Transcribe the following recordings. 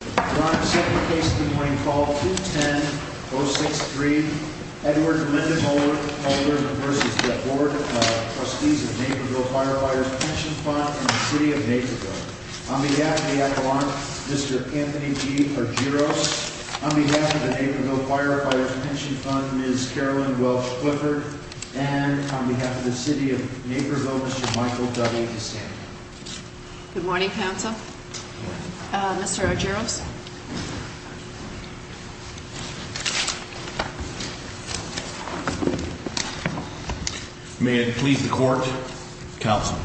On second case of the morning call, 210-063, Edward Lindenmulder v. Board of Trustees of the Naperville Firefighters' Pension Fund and the City of Naperville. On behalf of the Adelante, Mr. Anthony G. Argyros. On behalf of the Naperville Firefighters' Pension Fund, Ms. Carolyn Welch Clifford. And on behalf of the City of Naperville, Mr. Michael W. DeSando. Good morning, counsel. Mr. Argyros. May it please the court, counsel.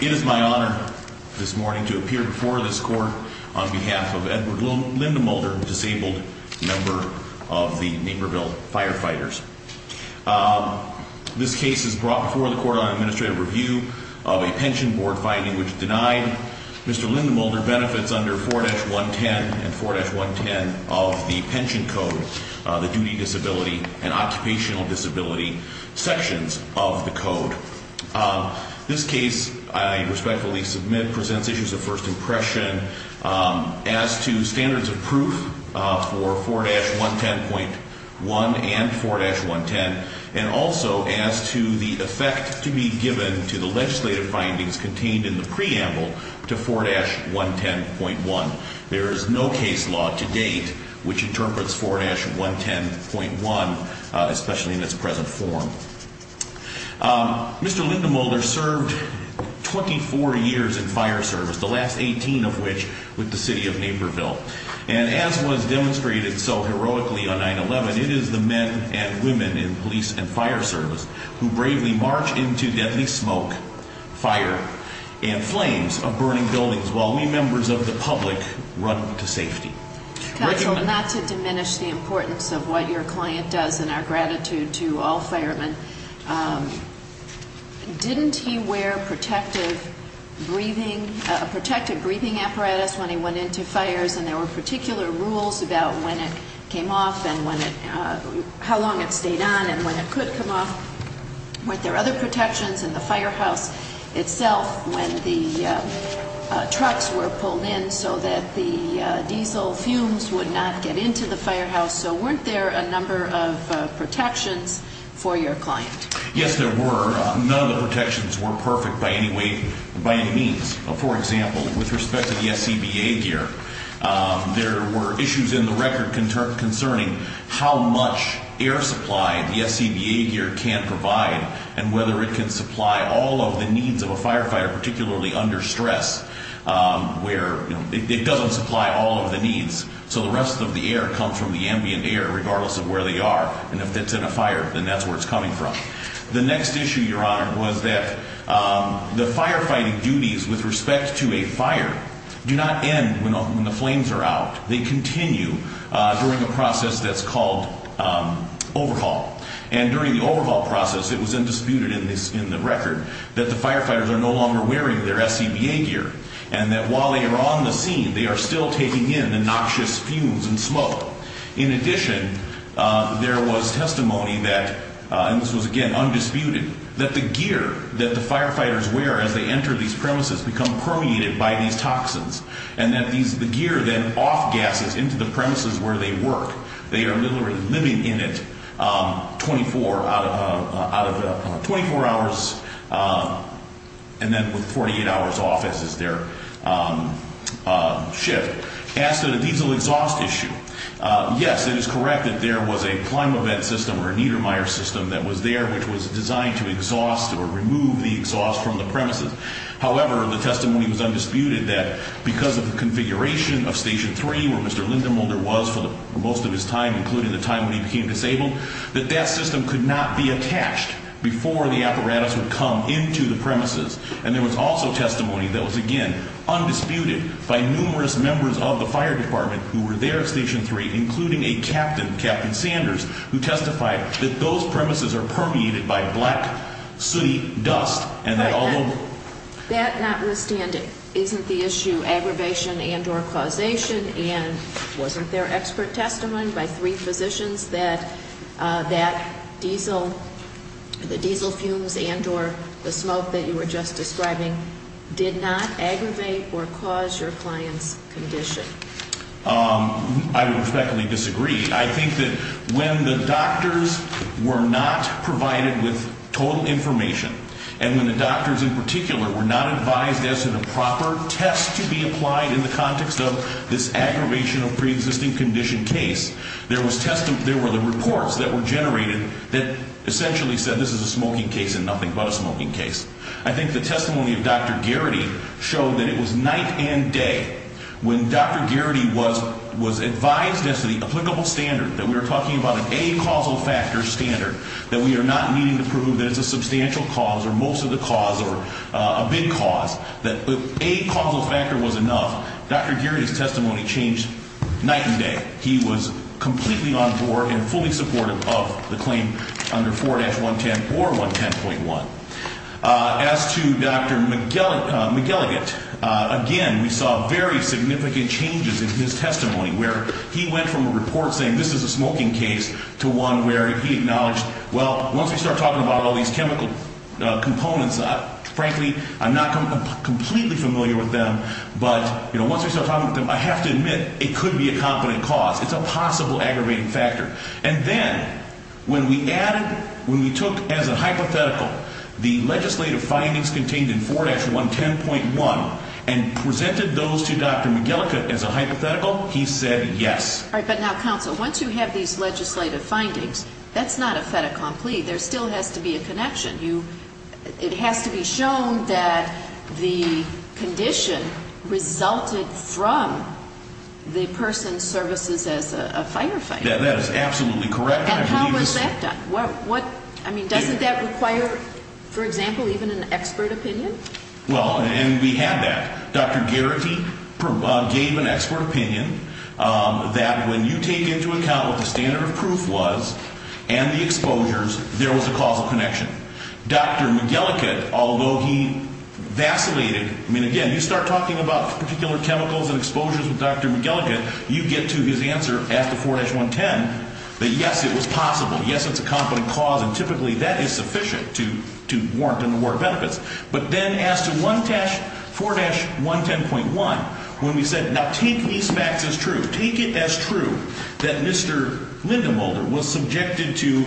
It is my honor this morning to appear before this court on behalf of Edward Lindenmulder, a disabled member of the Naperville Firefighters. This case is brought before the court on administrative review of a pension board finding which denied Mr. Lindenmulder benefits under 4-110 and 4-110 of the pension code, the duty disability and occupational disability sections of the code. This case I respectfully submit presents issues of first impression as to standards of proof for 4-110.1 and 4-110 and also as to the effect to be given to the legislative findings contained in the preamble to 4-110.1. There is no case law to date which interprets 4-110.1, especially in its present form. Mr. Lindenmulder served 24 years in fire service, the last 18 of which with the City of Naperville. And as was demonstrated so heroically on 9-11, it is the men and women in police and fire service who bravely march into deadly smoke, fire, and flames of burning buildings while we members of the public run to safety. Counsel, not to diminish the importance of what your client does and our gratitude to all firemen, didn't he wear a protective breathing apparatus when he went into fires and there were particular rules about when it came off and how long it stayed on and when it could come off? Weren't there other protections in the firehouse itself when the trucks were pulled in so that the diesel fumes would not get into the firehouse? So weren't there a number of protections for your client? Yes, there were. None of the protections were perfect by any means. For example, with respect to the SCBA gear, there were issues in the record concerning how much air supply the SCBA gear can provide and whether it can supply all of the needs of a firefighter, particularly under stress, where it doesn't supply all of the needs. So the rest of the air comes from the ambient air, regardless of where they are. And if it's in a fire, then that's where it's coming from. The next issue, Your Honor, was that the firefighting duties with respect to a fire do not end when the flames are out. They continue during a process that's called overhaul. And during the overhaul process, it was disputed in the record that the firefighters are no longer wearing their SCBA gear and that while they are on the scene, they are still taking in the noxious fumes and smoke. In addition, there was testimony that, and this was, again, undisputed, that the gear that the firefighters wear as they enter these premises become permeated by these toxins and that the gear then off-gasses into the premises where they work. They are literally living in it 24 hours and then with 48 hours off as is their shift. As to the diesel exhaust issue, yes, it is correct that there was a ClimaVet system or a Niedermeyer system that was there which was designed to exhaust or remove the exhaust from the premises. However, the testimony was undisputed that because of the configuration of Station 3 where Mr. Lindemulder was for most of his time, including the time when he became disabled, that that system could not be attached before the apparatus would come into the premises. And there was also testimony that was, again, undisputed by numerous members of the fire department who were there at Station 3, including a captain, Captain Sanders, who testified that those premises are permeated by black dust and that although... I would respectfully disagree. I think that when the doctors were not provided with total information and when the doctors in particular were not advised as to the proper test to be applied in the context of this aggravation of pre-existing condition case, there were the reports that were generated that essentially said this is a smoking case and nothing but a smoking case. I think the testimony of Dr. Garrity showed that it was night and day. When Dr. Garrity was advised as to the applicable standard, that we were talking about an a-causal factor standard, that we are not needing to prove that it's a substantial cause or most of the cause or a big cause, that an a-causal factor was enough, Dr. Garrity's testimony changed night and day. He was completely on board and fully supportive of the claim under 4-110 or 110.1. As to Dr. McGilligant, again, we saw very significant changes in his testimony where he went from a report saying this is a smoking case to one where he acknowledged, well, once we start talking about all these chemical components, frankly, I'm not completely familiar with them, but once we start talking about them, I have to admit, it could be a competent cause. It's a possible aggravating factor. And then when we added, when we took as a hypothetical the legislative findings contained in 4-110.1 and presented those to Dr. McGilligant as a hypothetical, he said yes. All right. But now, counsel, once you have these legislative findings, that's not a fait accompli. There still has to be a connection. It has to be shown that the condition resulted from the person's services as a firefighter. That is absolutely correct. And how was that done? I mean, doesn't that require, for example, even an expert opinion? Well, and we had that. Dr. Geraghty gave an expert opinion that when you take into account what the standard of proof was and the exposures, there was a causal connection. Dr. McGilligant, although he vacillated, I mean, again, you start talking about particular chemicals and exposures with Dr. McGilligant, you get to his answer as to 4-110, that yes, it was possible. Yes, it's a competent cause, and typically that is sufficient to warrant and award benefits. But then as to 4-110.1, when we said, now take these facts as true, take it as true that Mr. Lindemulder was subjected to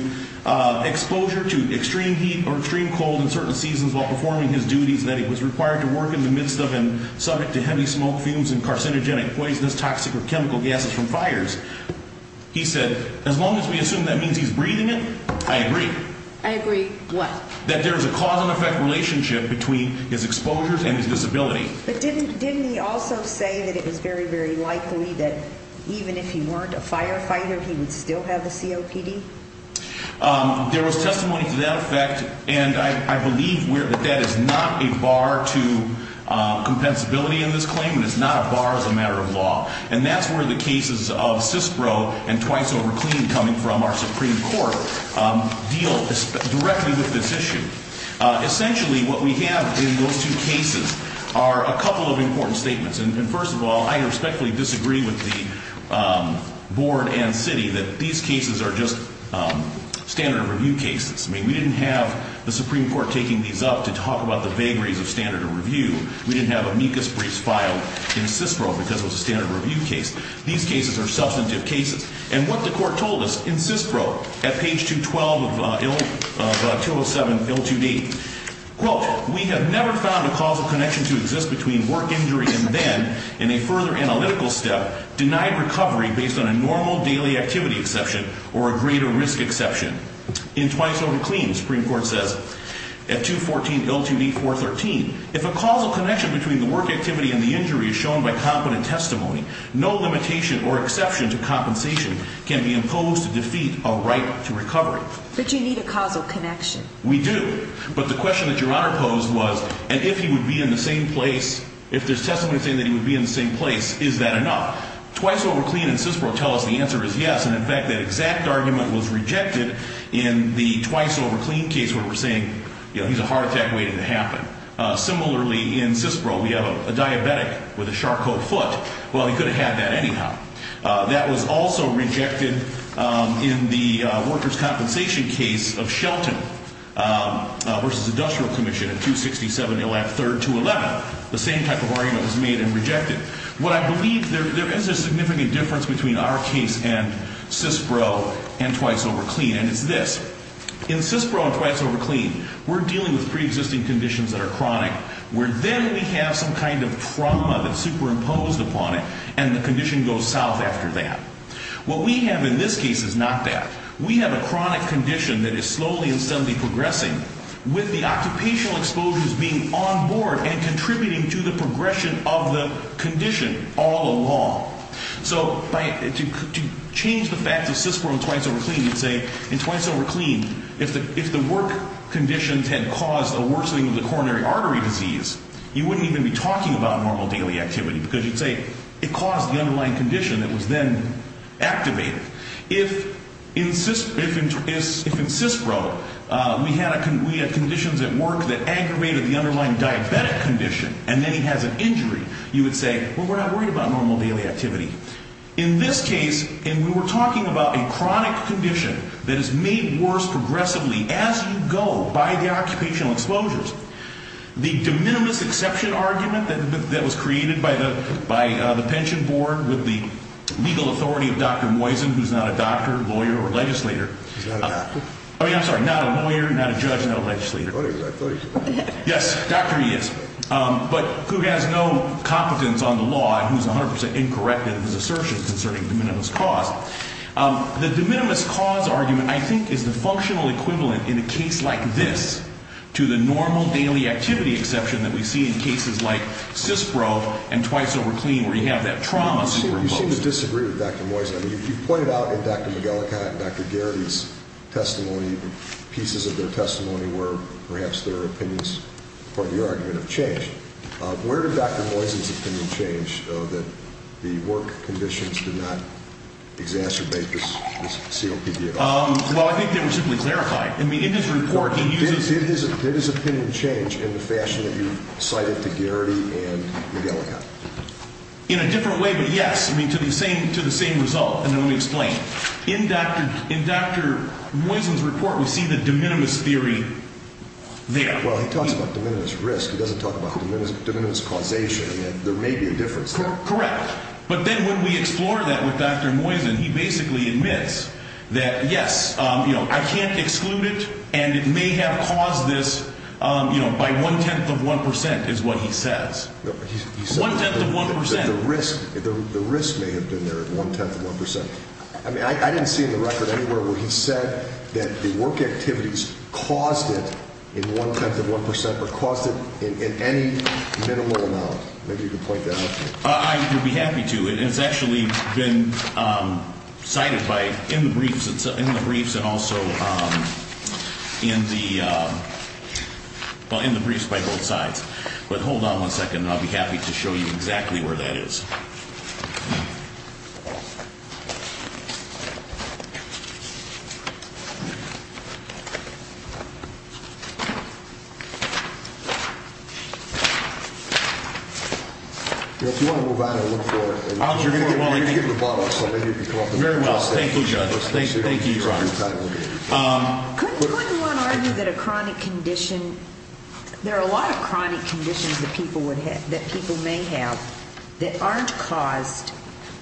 exposure to extreme heat or extreme cold in certain seasons while performing his duties that he was required to work in the midst of and subject to heavy smoke, fumes, and carcinogenic, poisonous, toxic, or chemical gases from fires. He said, as long as we assume that means he's breathing it, I agree. I agree what? That there's a cause and effect relationship between his exposures and his disability. But didn't he also say that it was very, very likely that even if he weren't a firefighter, he would still have a COPD? There was testimony to that effect, and I believe that that is not a bar to compensability in this claim and it's not a bar as a matter of law. And that's where the cases of CISPRO and Twice Over Clean coming from our Supreme Court deal directly with this issue. Essentially what we have in those two cases are a couple of important statements. And first of all, I respectfully disagree with the board and city that these cases are just standard of review cases. I mean, we didn't have the Supreme Court taking these up to talk about the vagaries of standard of review. We didn't have amicus briefs filed in CISPRO because it was a standard of review case. These cases are substantive cases. And what the court told us in CISPRO at page 212 of 207 L2D, quote, we have never found a causal connection to exist between work injury and then, in a further analytical step, denied recovery based on a normal daily activity exception or a greater risk exception. In Twice Over Clean, the Supreme Court says at 214 L2D 413, if a causal connection between the work activity and the injury is shown by competent testimony, no limitation or exception to compensation can be imposed to defeat a right to recovery. But you need a causal connection. We do. But the question that Your Honor posed was, and if he would be in the same place, if there's testimony saying that he would be in the same place, is that enough? Twice Over Clean and CISPRO tell us the answer is yes. And, in fact, that exact argument was rejected in the Twice Over Clean case where we're saying, you know, he's a heart attack waiting to happen. Similarly, in CISPRO, we have a diabetic with a Charcot foot. Well, he could have had that anyhow. That was also rejected in the workers' compensation case of Shelton versus Industrial Commission at 267 LF 3211. The same type of argument was made and rejected. What I believe, there is a significant difference between our case and CISPRO and Twice Over Clean, and it's this. In CISPRO and Twice Over Clean, we're dealing with preexisting conditions that are chronic, where then we have some kind of trauma that's superimposed upon it, and the condition goes south after that. What we have in this case is not that. We have a chronic condition that is slowly and steadily progressing, with the occupational exposures being on board and contributing to the progression of the condition all along. So to change the fact of CISPRO and Twice Over Clean, you'd say, in Twice Over Clean, if the work conditions had caused a worsening of the coronary artery disease, you wouldn't even be talking about normal daily activity because you'd say it caused the underlying condition that was then activated. If in CISPRO we had conditions at work that aggravated the underlying diabetic condition, and then he has an injury, you would say, well, we're not worried about normal daily activity. In this case, and we were talking about a chronic condition that is made worse progressively as you go by the occupational exposures, the de minimis exception argument that was created by the pension board with the legal authority of Dr. Moisen, who's not a doctor, lawyer, or legislator. He's not a doctor? I'm sorry, not a lawyer, not a judge, not a legislator. I thought he was. Yes, doctor he is, but who has no competence on the law and who's 100% incorrect in his assertions concerning de minimis cause. The de minimis cause argument, I think, is the functional equivalent in a case like this to the normal daily activity exception that we see in cases like CISPRO and Twice Over Clean where you have that trauma superimposed. You seem to disagree with Dr. Moisen. I mean, you pointed out in Dr. McGillicott and Dr. Garrity's testimony, pieces of their testimony where perhaps their opinions or the argument have changed. Where did Dr. Moisen's opinion change that the work conditions did not exacerbate this COPD at all? Well, I think they were simply clarified. I mean, in his report he uses... Did his opinion change in the fashion that you cited to Garrity and McGillicott? In a different way, but yes. I mean, to the same result. And let me explain. In Dr. Moisen's report we see the de minimis theory there. Well, he talks about de minimis risk. He doesn't talk about de minimis causation. I mean, there may be a difference there. Correct. But then when we explore that with Dr. Moisen, he basically admits that yes, you know, I can't exclude it and it may have caused this, you know, by one-tenth of 1% is what he says. One-tenth of 1%? The risk may have been there at one-tenth of 1%. I mean, I didn't see in the record anywhere where he said that the work activities caused it in one-tenth of 1% or caused it in any minimal amount. Maybe you could point that out to me. I would be happy to. And it's actually been cited in the briefs and also in the... well, in the briefs by both sides. But hold on one second and I'll be happy to show you exactly where that is. If you want to move on, I'll look for it. Very well. Thank you, Judge. Thank you, Your Honor. Couldn't one argue that a chronic condition, there are a lot of chronic conditions that people may have that aren't caused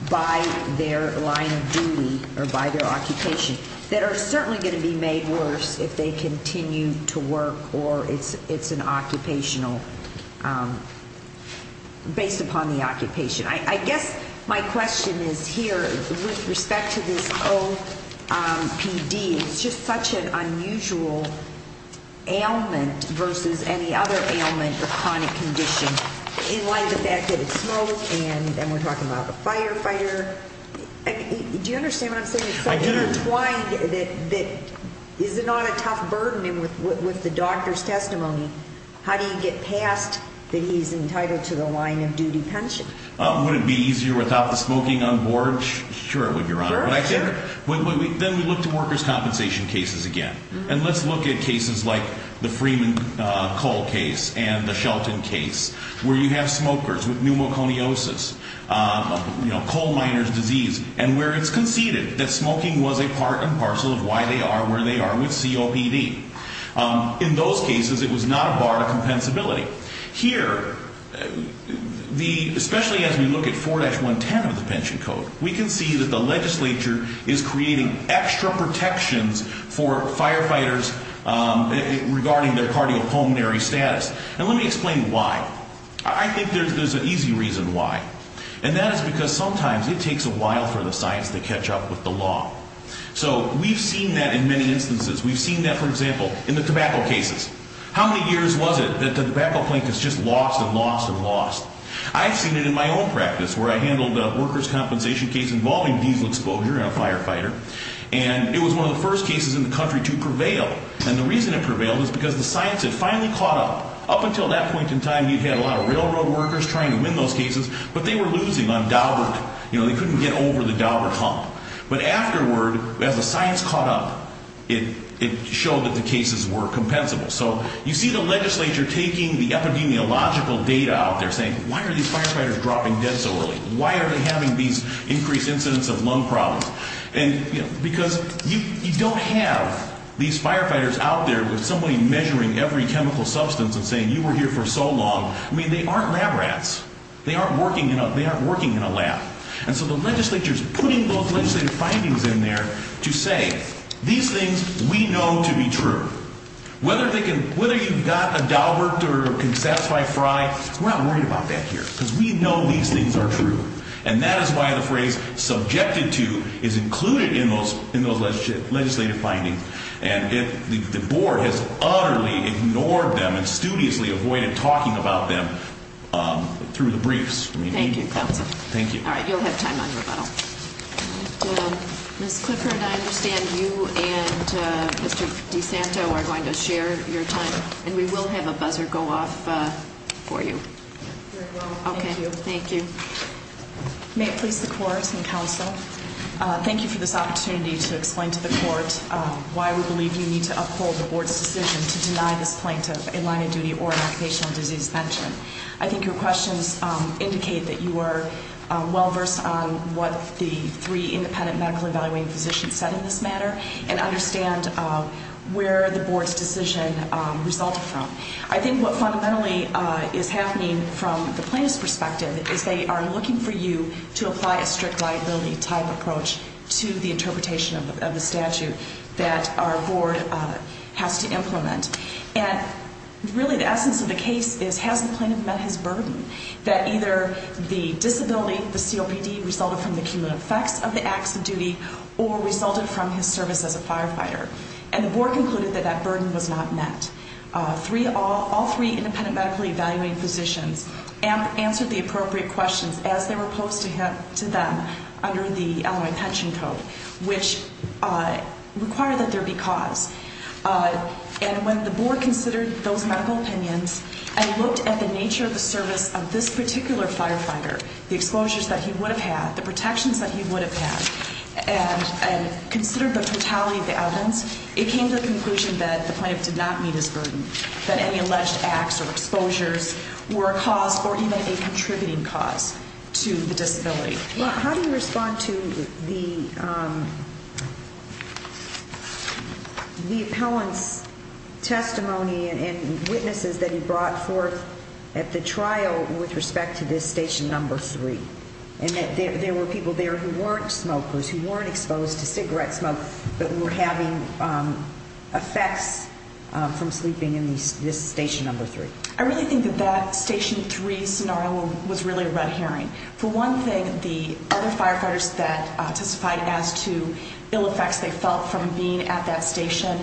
by their line of duty or by their occupation that are certainly going to be made worse if they continue to work or it's an occupational, based upon the occupation. I guess my question is here with respect to this OPD. It's just such an unusual ailment versus any other ailment or chronic condition in light of the fact that it's smoke and we're talking about a firefighter. Do you understand what I'm saying? I do. It's so intertwined that is it not a tough burden with the doctor's testimony? How do you get past that he's entitled to the line of duty pension? Would it be easier without the smoking on board? Sure it would, Your Honor. Sure, sure. Then we look to workers' compensation cases again. And let's look at cases like the Freeman coal case and the Shelton case where you have smokers with pneumoconiosis, coal miners' disease, and where it's conceded that smoking was a part and parcel of why they are where they are with COPD. In those cases, it was not a bar to compensability. Here, especially as we look at 4-110 of the pension code, we can see that the legislature is creating extra protections for firefighters regarding their cardiopulmonary status. And let me explain why. I think there's an easy reason why. And that is because sometimes it takes a while for the science to catch up with the law. So we've seen that in many instances. We've seen that, for example, in the tobacco cases. How many years was it that the tobacco plaintiffs just lost and lost and lost? I've seen it in my own practice where I handled a workers' compensation case involving diesel exposure in a firefighter. And it was one of the first cases in the country to prevail. And the reason it prevailed is because the science had finally caught up. Up until that point in time, you had a lot of railroad workers trying to win those cases, but they were losing on Daubert. You know, they couldn't get over the Daubert hump. But afterward, as the science caught up, it showed that the cases were compensable. So you see the legislature taking the epidemiological data out there, saying, why are these firefighters dropping dead so early? Why are they having these increased incidents of lung problems? And, you know, because you don't have these firefighters out there with somebody measuring every chemical substance and saying, you were here for so long. I mean, they aren't lab rats. They aren't working in a lab. And so the legislature's putting those legislative findings in there to say, these things we know to be true. Whether you've got a Daubert or can satisfy Fry, we're not worried about that here, because we know these things are true. And that is why the phrase, subjected to, is included in those legislative findings. And the board has utterly ignored them and studiously avoided talking about them through the briefs. Thank you, counsel. Thank you. All right, you'll have time on rebuttal. Ms. Clifford, I understand you and Mr. DeSanto are going to share your time. And we will have a buzzer go off for you. Very well, thank you. Okay, thank you. May it please the court and counsel, thank you for this opportunity to explain to the court why we believe you need to uphold the board's decision to deny this plaintiff a line of duty or an occupational disease pension. I think your questions indicate that you are well versed on what the three independent medical evaluating physicians said in this matter and understand where the board's decision resulted from. I think what fundamentally is happening from the plaintiff's perspective is they are looking for you to apply a strict liability type approach to the interpretation of the statute that our board has to implement. And really the essence of the case is, has the plaintiff met his burden? That either the disability, the COPD, resulted from the cumulative effects of the acts of duty or resulted from his service as a firefighter. And the board concluded that that burden was not met. All three independent medical evaluating physicians answered the appropriate questions as they were posed to them under the Illinois Pension Code, which required that there be cause. And when the board considered those medical opinions and looked at the nature of the service of this particular firefighter, the exposures that he would have had, the protections that he would have had, and considered the totality of the evidence, it came to the conclusion that the plaintiff did not meet his burden, that any alleged acts or exposures were a cause or even a contributing cause to the disability. Well, how do you respond to the appellant's testimony and witnesses that he brought forth at the trial with respect to this Station Number 3? And that there were people there who weren't smokers, who weren't exposed to cigarette smoke, but were having effects from sleeping in this Station Number 3. I really think that that Station 3 scenario was really a red herring. For one thing, the other firefighters that testified as to ill effects they felt from being at that station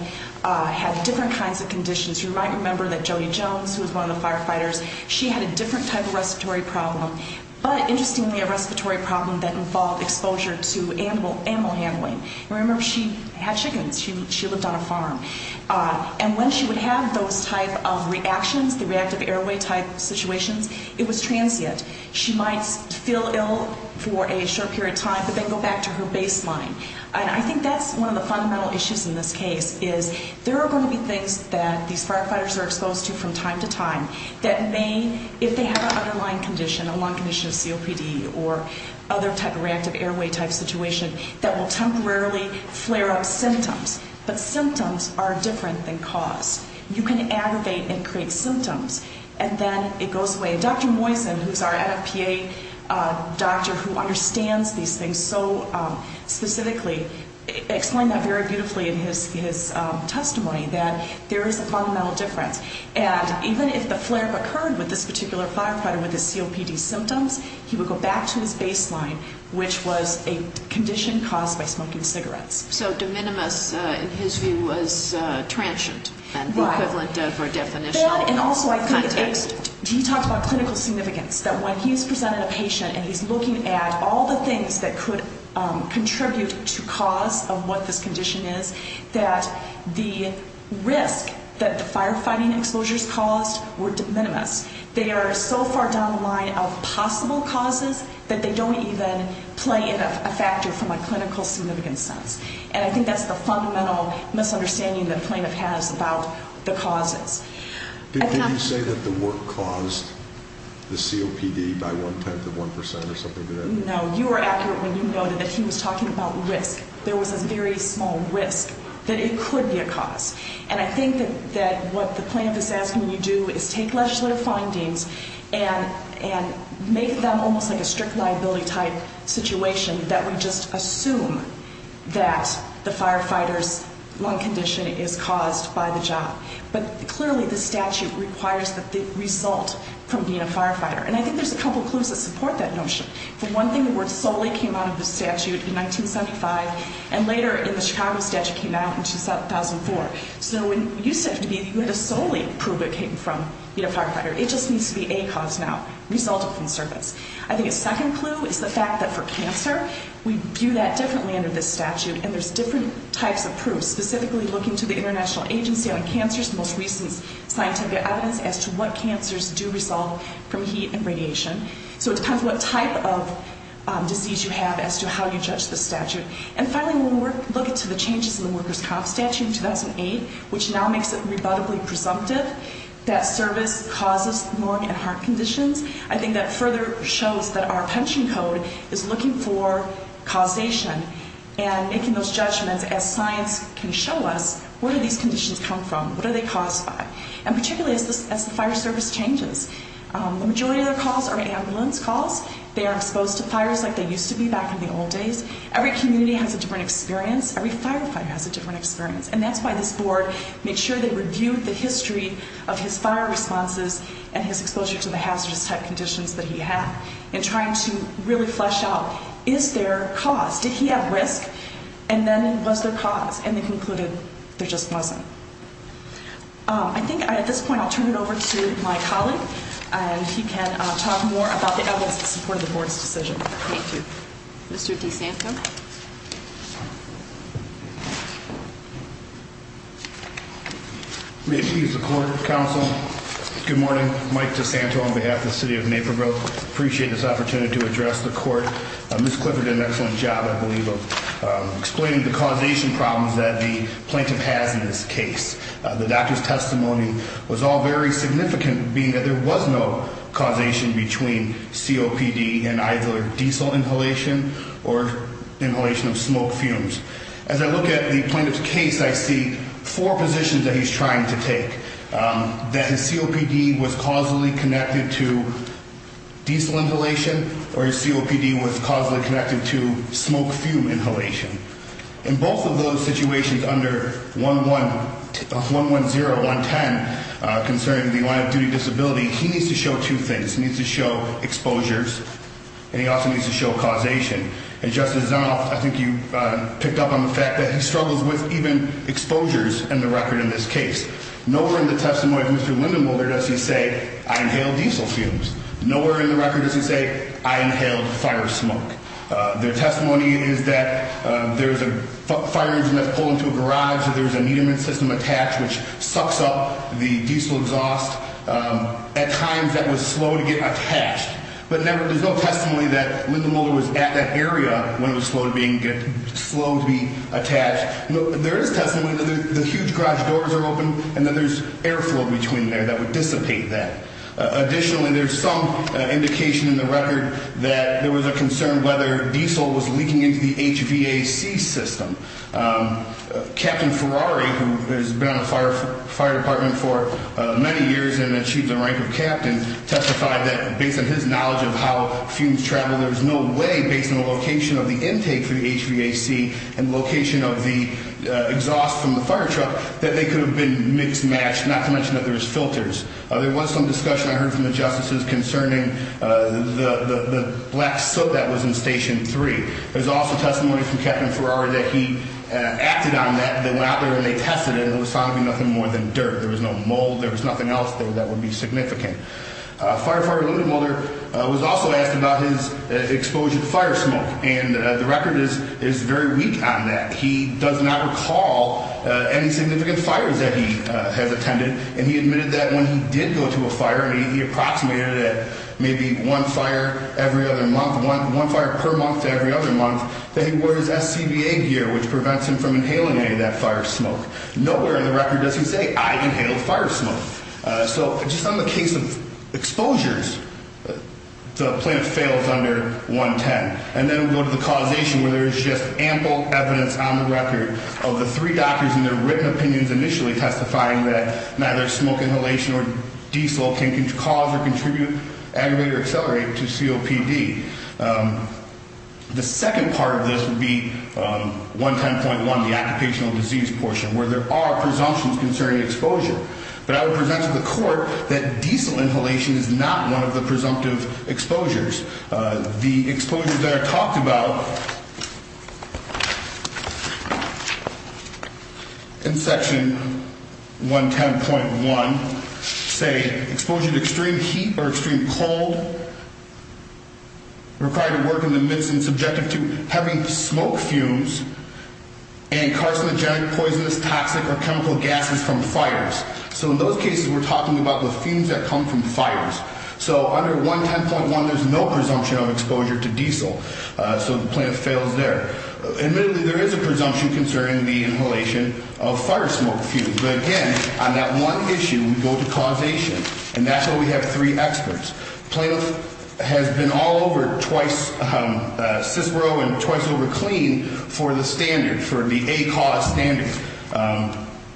had different kinds of conditions. You might remember that Jody Jones, who was one of the firefighters, she had a different type of respiratory problem, but interestingly, a respiratory problem that involved exposure to animal handling. Remember, she had chickens. She lived on a farm. And when she would have those type of reactions, the reactive airway type situations, it was transient. She might feel ill for a short period of time, but then go back to her baseline. And I think that's one of the fundamental issues in this case, is there are going to be things that these firefighters are exposed to from time to time that may, if they have an underlying condition, a long condition of COPD or other type of reactive airway type situation, that will temporarily flare up symptoms. But symptoms are different than cause. You can aggravate and create symptoms, and then it goes away. Dr. Moisen, who's our NFPA doctor who understands these things so specifically, explained that very beautifully in his testimony, that there is a fundamental difference. And even if the flare-up occurred with this particular firefighter with his COPD symptoms, he would go back to his baseline, which was a condition caused by smoking cigarettes. So de minimis, in his view, was transient. Right. And the equivalent of or definitional context. He talked about clinical significance, that when he's presenting a patient and he's looking at all the things that could contribute to cause of what this condition is, that the risk that the firefighting exposures caused were de minimis. They are so far down the line of possible causes that they don't even play a factor from a clinical significance sense. And I think that's the fundamental misunderstanding that Planoff has about the causes. Did he say that the work caused the COPD by one-tenth of one percent or something like that? No. You were accurate when you noted that he was talking about risk. There was a very small risk that it could be a cause. And I think that what Planoff is asking you to do is take legislative findings and make them almost like a strict liability type situation that we just assume that the firefighter's lung condition is caused by the job. But clearly the statute requires that they result from being a firefighter. And I think there's a couple of clues that support that notion. For one thing, the word solely came out of the statute in 1975, and later in the Chicago statute came out in 2004. So it used to have to be that you had to solely prove it came from being a firefighter. It just needs to be a cause now, resulting from service. I think a second clue is the fact that for cancer, we view that differently under this statute, and there's different types of proofs, specifically looking to the International Agency on Cancer's most recent scientific evidence as to what cancers do result from heat and radiation. So it depends what type of disease you have as to how you judge the statute. And finally, when we look into the changes in the workers' comp statute in 2008, which now makes it rebuttably presumptive that service causes lung and heart conditions, I think that further shows that our pension code is looking for causation and making those judgments as science can show us, where do these conditions come from? What are they caused by? And particularly as the fire service changes. The majority of their calls are ambulance calls. They are exposed to fires like they used to be back in the old days. Every community has a different experience. Every firefighter has a different experience. And that's why this board made sure they reviewed the history of his fire responses and his exposure to the hazardous type conditions that he had, in trying to really flesh out, is there cause? Did he have risk? And then was there cause? And they concluded there just wasn't. I think at this point I'll turn it over to my colleague, and he can talk more about the evidence that supported the board's decision. Thank you. Mr. DeSanto? May it please the court, counsel. Good morning. Mike DeSanto on behalf of the city of Naperville. Appreciate this opportunity to address the court. Ms. Clifford did an excellent job, I believe, of explaining the causation problems that the plaintiff has in this case. The doctor's testimony was all very significant, being that there was no causation between COPD and either diesel inhalation or inhalation of smoke fumes. As I look at the plaintiff's case, I see four positions that he's trying to take. That his COPD was causally connected to diesel inhalation, or his COPD was causally connected to smoke fume inhalation. In both of those situations, under 110, 110, concerning the line-of-duty disability, he needs to show two things. He needs to show exposures, and he also needs to show causation. And Justice Zant, I think you picked up on the fact that he struggles with even exposures in the record in this case. Nowhere in the testimony of Mr. Lindenboulder does he say, I inhaled diesel fumes. Nowhere in the record does he say, I inhaled fire smoke. The testimony is that there's a fire engine that's pulled into a garage, that there's a Neiman system attached, which sucks up the diesel exhaust. At times, that was slow to get attached. But there's no testimony that Lindenboulder was at that area when it was slow to be attached. There is testimony that the huge garage doors are open, and then there's air flow between there that would dissipate that. Additionally, there's some indication in the record that there was a concern whether diesel was leaking into the HVAC system. Captain Ferrari, who has been on the fire department for many years and achieved the rank of captain, testified that, based on his knowledge of how fumes travel, there's no way, based on the location of the intake for the HVAC and location of the exhaust from the fire truck, that they could have been mixed-matched, not to mention that there was filters. There was some discussion, I heard from the justices, concerning the black soot that was in Station 3. There's also testimony from Captain Ferrari that he acted on that. They went out there and they tested it, and it was found to be nothing more than dirt. There was no mold, there was nothing else that would be significant. Firefighter Lindenboulder was also asked about his exposure to fire smoke, and the record is very weak on that. He does not recall any significant fires that he has attended, and he admitted that when he did go to a fire, and he approximated it at maybe one fire every other month, one fire per month to every other month, that he wore his SCBA gear, which prevents him from inhaling any of that fire smoke. Nowhere in the record does he say, I inhaled fire smoke. So, just on the case of exposures, the plan fails under 110. And then we go to the causation, where there is just ample evidence on the record of the three doctors and their written opinions initially testifying that neither smoke inhalation or diesel can cause or contribute, aggravate or accelerate to COPD. The second part of this would be 110.1, the occupational disease portion, where there are presumptions concerning exposure. But I would present to the court that diesel inhalation is not one of the presumptive exposures. The exposures that are talked about in section 110.1 say, exposure to extreme heat or extreme cold, required to work in the midst and subjective to having smoke fumes, and carcinogenic, poisonous, toxic, or chemical gases from fires. So in those cases, we're talking about the fumes that come from fires. So under 110.1, there's no presumption of exposure to diesel. So the plan fails there. Admittedly, there is a presumption concerning the inhalation of fire smoke fumes. But again, on that one issue, we go to causation. And that's why we have three experts. Plano has been all over, twice CISPRO and twice over CLEAN, for the standard, for the ACAU standards.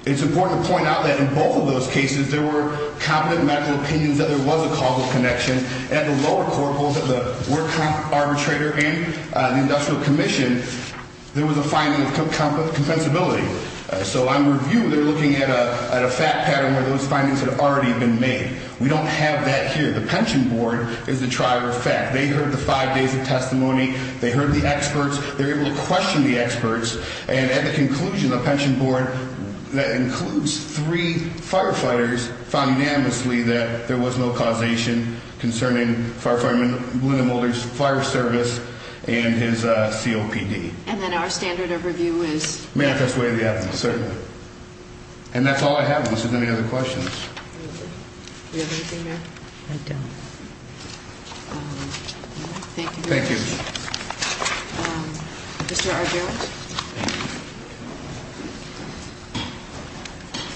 It's important to point out that in both of those cases, there were competent medical opinions that there was a causal connection. At the lower court, both of the workhouse arbitrator and the industrial commission, there was a finding of compensability. So on review, they're looking at a fact pattern where those findings had already been made. We don't have that here. The pension board is the trier of fact. They heard the five days of testimony. They heard the experts. They're able to question the experts. And at the conclusion, the pension board, that includes three firefighters, found unanimously that there was no causation concerning Firefighter Malina Mulder's fire service and his COPD. And then our standard of review is? Manifest way of the evidence, certainly. And that's all I have unless there's any other questions. Do we have anything there? I don't. Thank you. Thank you. Mr. Argyros.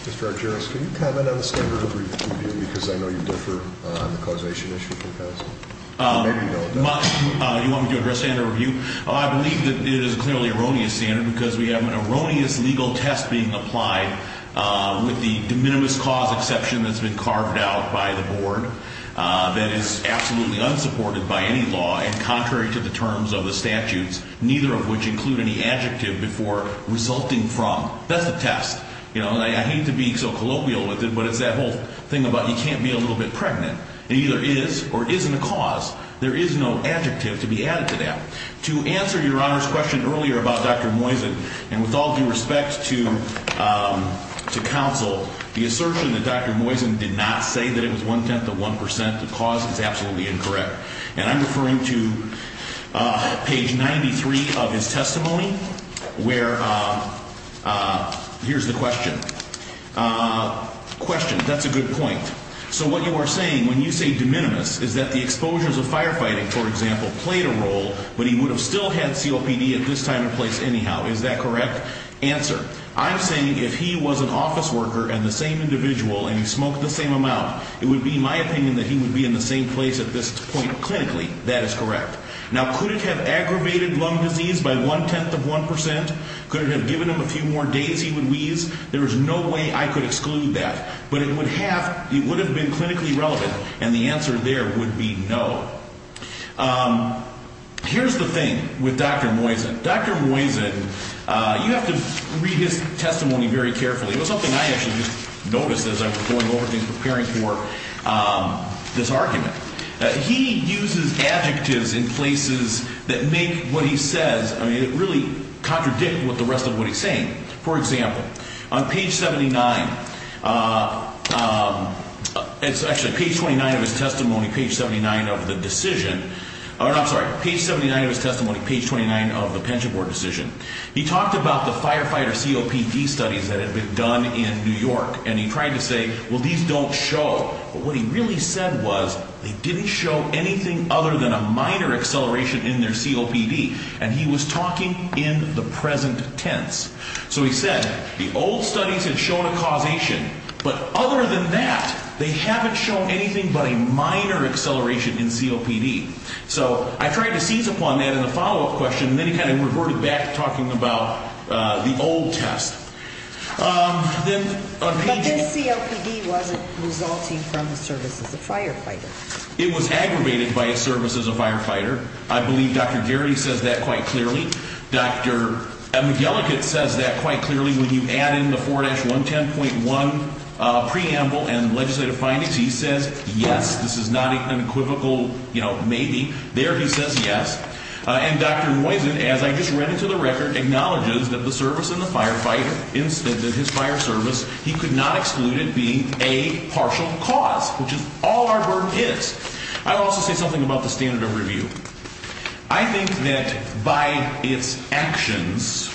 Mr. Argyros, can you comment on the standard of review? Because I know you differ on the causation issue. You want me to address standard of review? I believe that it is clearly an erroneous standard because we have an erroneous legal test being applied with the de minimis cause exception that's been carved out by the board that is absolutely unsupported by any law. And contrary to the terms of the statutes, neither of which include any adjective before resulting from. That's the test. I hate to be so colloquial with it, but it's that whole thing about you can't be a little bit pregnant. It either is or isn't a cause. There is no adjective to be added to that. To answer your Honor's question earlier about Dr. Moisen, and with all due respect to counsel, the assertion that Dr. Moisen did not say that it was one-tenth of one percent of cause is absolutely incorrect. And I'm referring to page 93 of his testimony, where, here's the question. Question, that's a good point. So what you are saying, when you say de minimis, is that the exposures of firefighting, for example, played a role, but he would have still had COPD at this time and place anyhow. Is that correct? Answer. I'm saying if he was an office worker and the same individual and he smoked the same amount, it would be my opinion that he would be in the same place at this point clinically. That is correct. Now, could it have aggravated lung disease by one-tenth of one percent? Could it have given him a few more days he would wheeze? There is no way I could exclude that. But it would have been clinically relevant, and the answer there would be no. Here's the thing with Dr. Moisen. Dr. Moisen, you have to read his testimony very carefully. It was something I actually just noticed as I was going over things, preparing for this argument. He uses adjectives in places that make what he says, I mean, it really contradicts the rest of what he's saying. For example, on page 79, it's actually page 29 of his testimony, page 79 of the decision, I'm sorry, page 79 of his testimony, page 29 of the pension board decision, he talked about the firefighter COPD studies that had been done in New York, and he tried to say, well, these don't show. But what he really said was, they didn't show anything other than a minor acceleration in their COPD, and he was talking in the present tense. So he said, the old studies had shown a causation, but other than that, they haven't shown anything but a minor acceleration in COPD. So I tried to seize upon that in the follow-up question, and then he kind of reverted back to talking about the old test. But this COPD wasn't resulting from the service as a firefighter. It was aggravated by a service as a firefighter. I believe Dr. Gary says that quite clearly. Dr. McGillicud says that quite clearly. When you add in the 4-110.1 preamble and legislative findings, he says, yes, this is not an equivocal maybe. There he says yes. And Dr. Noysen, as I just read into the record, acknowledges that the service as a firefighter instead of his fire service, he could not exclude it being a partial cause, which is all our burden is. I'll also say something about the standard of review. I think that by its actions,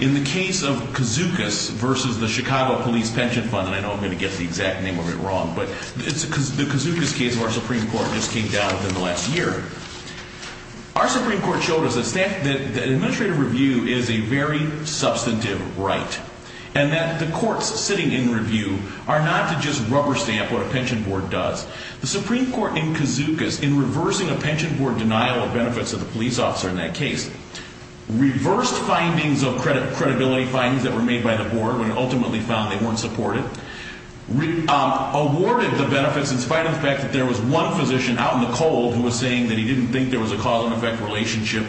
in the case of Kazookas versus the Chicago Police Pension Fund, and I know I'm going to get the exact name of it wrong, but the Kazookas case of our Supreme Court just came down within the last year. Our Supreme Court showed us that administrative review is a very substantive right and that the courts sitting in review are not to just rubber stamp what a pension board does. The Supreme Court in Kazookas, in reversing a pension board denial of benefits of the police officer in that case, reversed findings of credibility, findings that were made by the board when it ultimately found they weren't supported, awarded the benefits in spite of the fact that there was one physician out in the cold who was saying that he didn't think there was a cause and effect relationship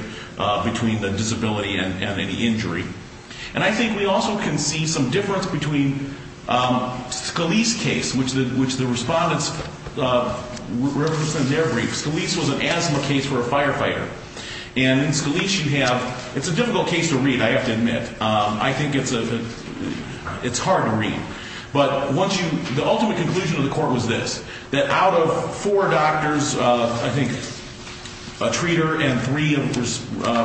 between the disability and any injury. And I think we also can see some difference between Scalise's case, which the respondents represent in their briefs. Scalise was an asthma case for a firefighter. And in Scalise you have, it's a difficult case to read, I have to admit. I think it's hard to read. But once you, the ultimate conclusion of the court was this, that out of four doctors, I think a treater and three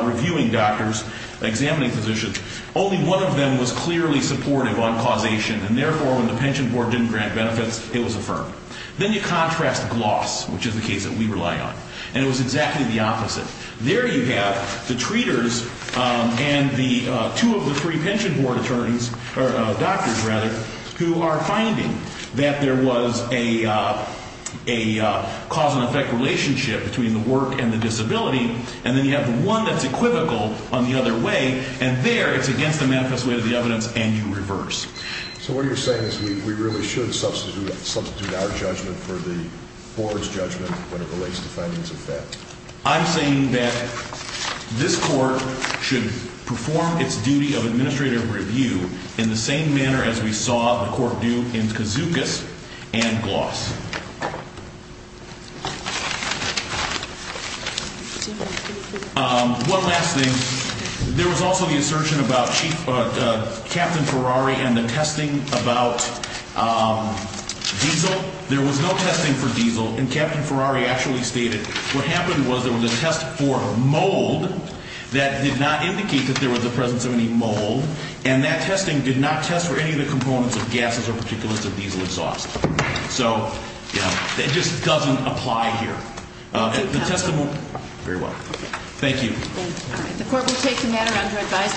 reviewing doctors, examining physicians, only one of them was clearly supportive on causation, and therefore when the pension board didn't grant benefits, it was affirmed. Then you contrast Gloss, which is the case that we rely on, and it was exactly the opposite. There you have the treaters and the two of the three pension board attorneys, or doctors, rather, who are finding that there was a cause and effect relationship between the work and the disability. And then you have the one that's equivocal on the other way, and there it's against the manifest way of the evidence, and you reverse. So what you're saying is we really should substitute our judgment for the board's judgment when it relates to findings of that? So I'm saying that this court should perform its duty of administrative review in the same manner as we saw the court do in Kazukas and Gloss. One last thing. There was also the assertion about Captain Ferrari and the testing about diesel. There was no testing for diesel, and Captain Ferrari actually stated, what happened was there was a test for mold that did not indicate that there was the presence of any mold, and that testing did not test for any of the components of gases or particulates of diesel exhaust. So, you know, it just doesn't apply here. The testimony – very well. Thank you. The court will take the matter under advisement.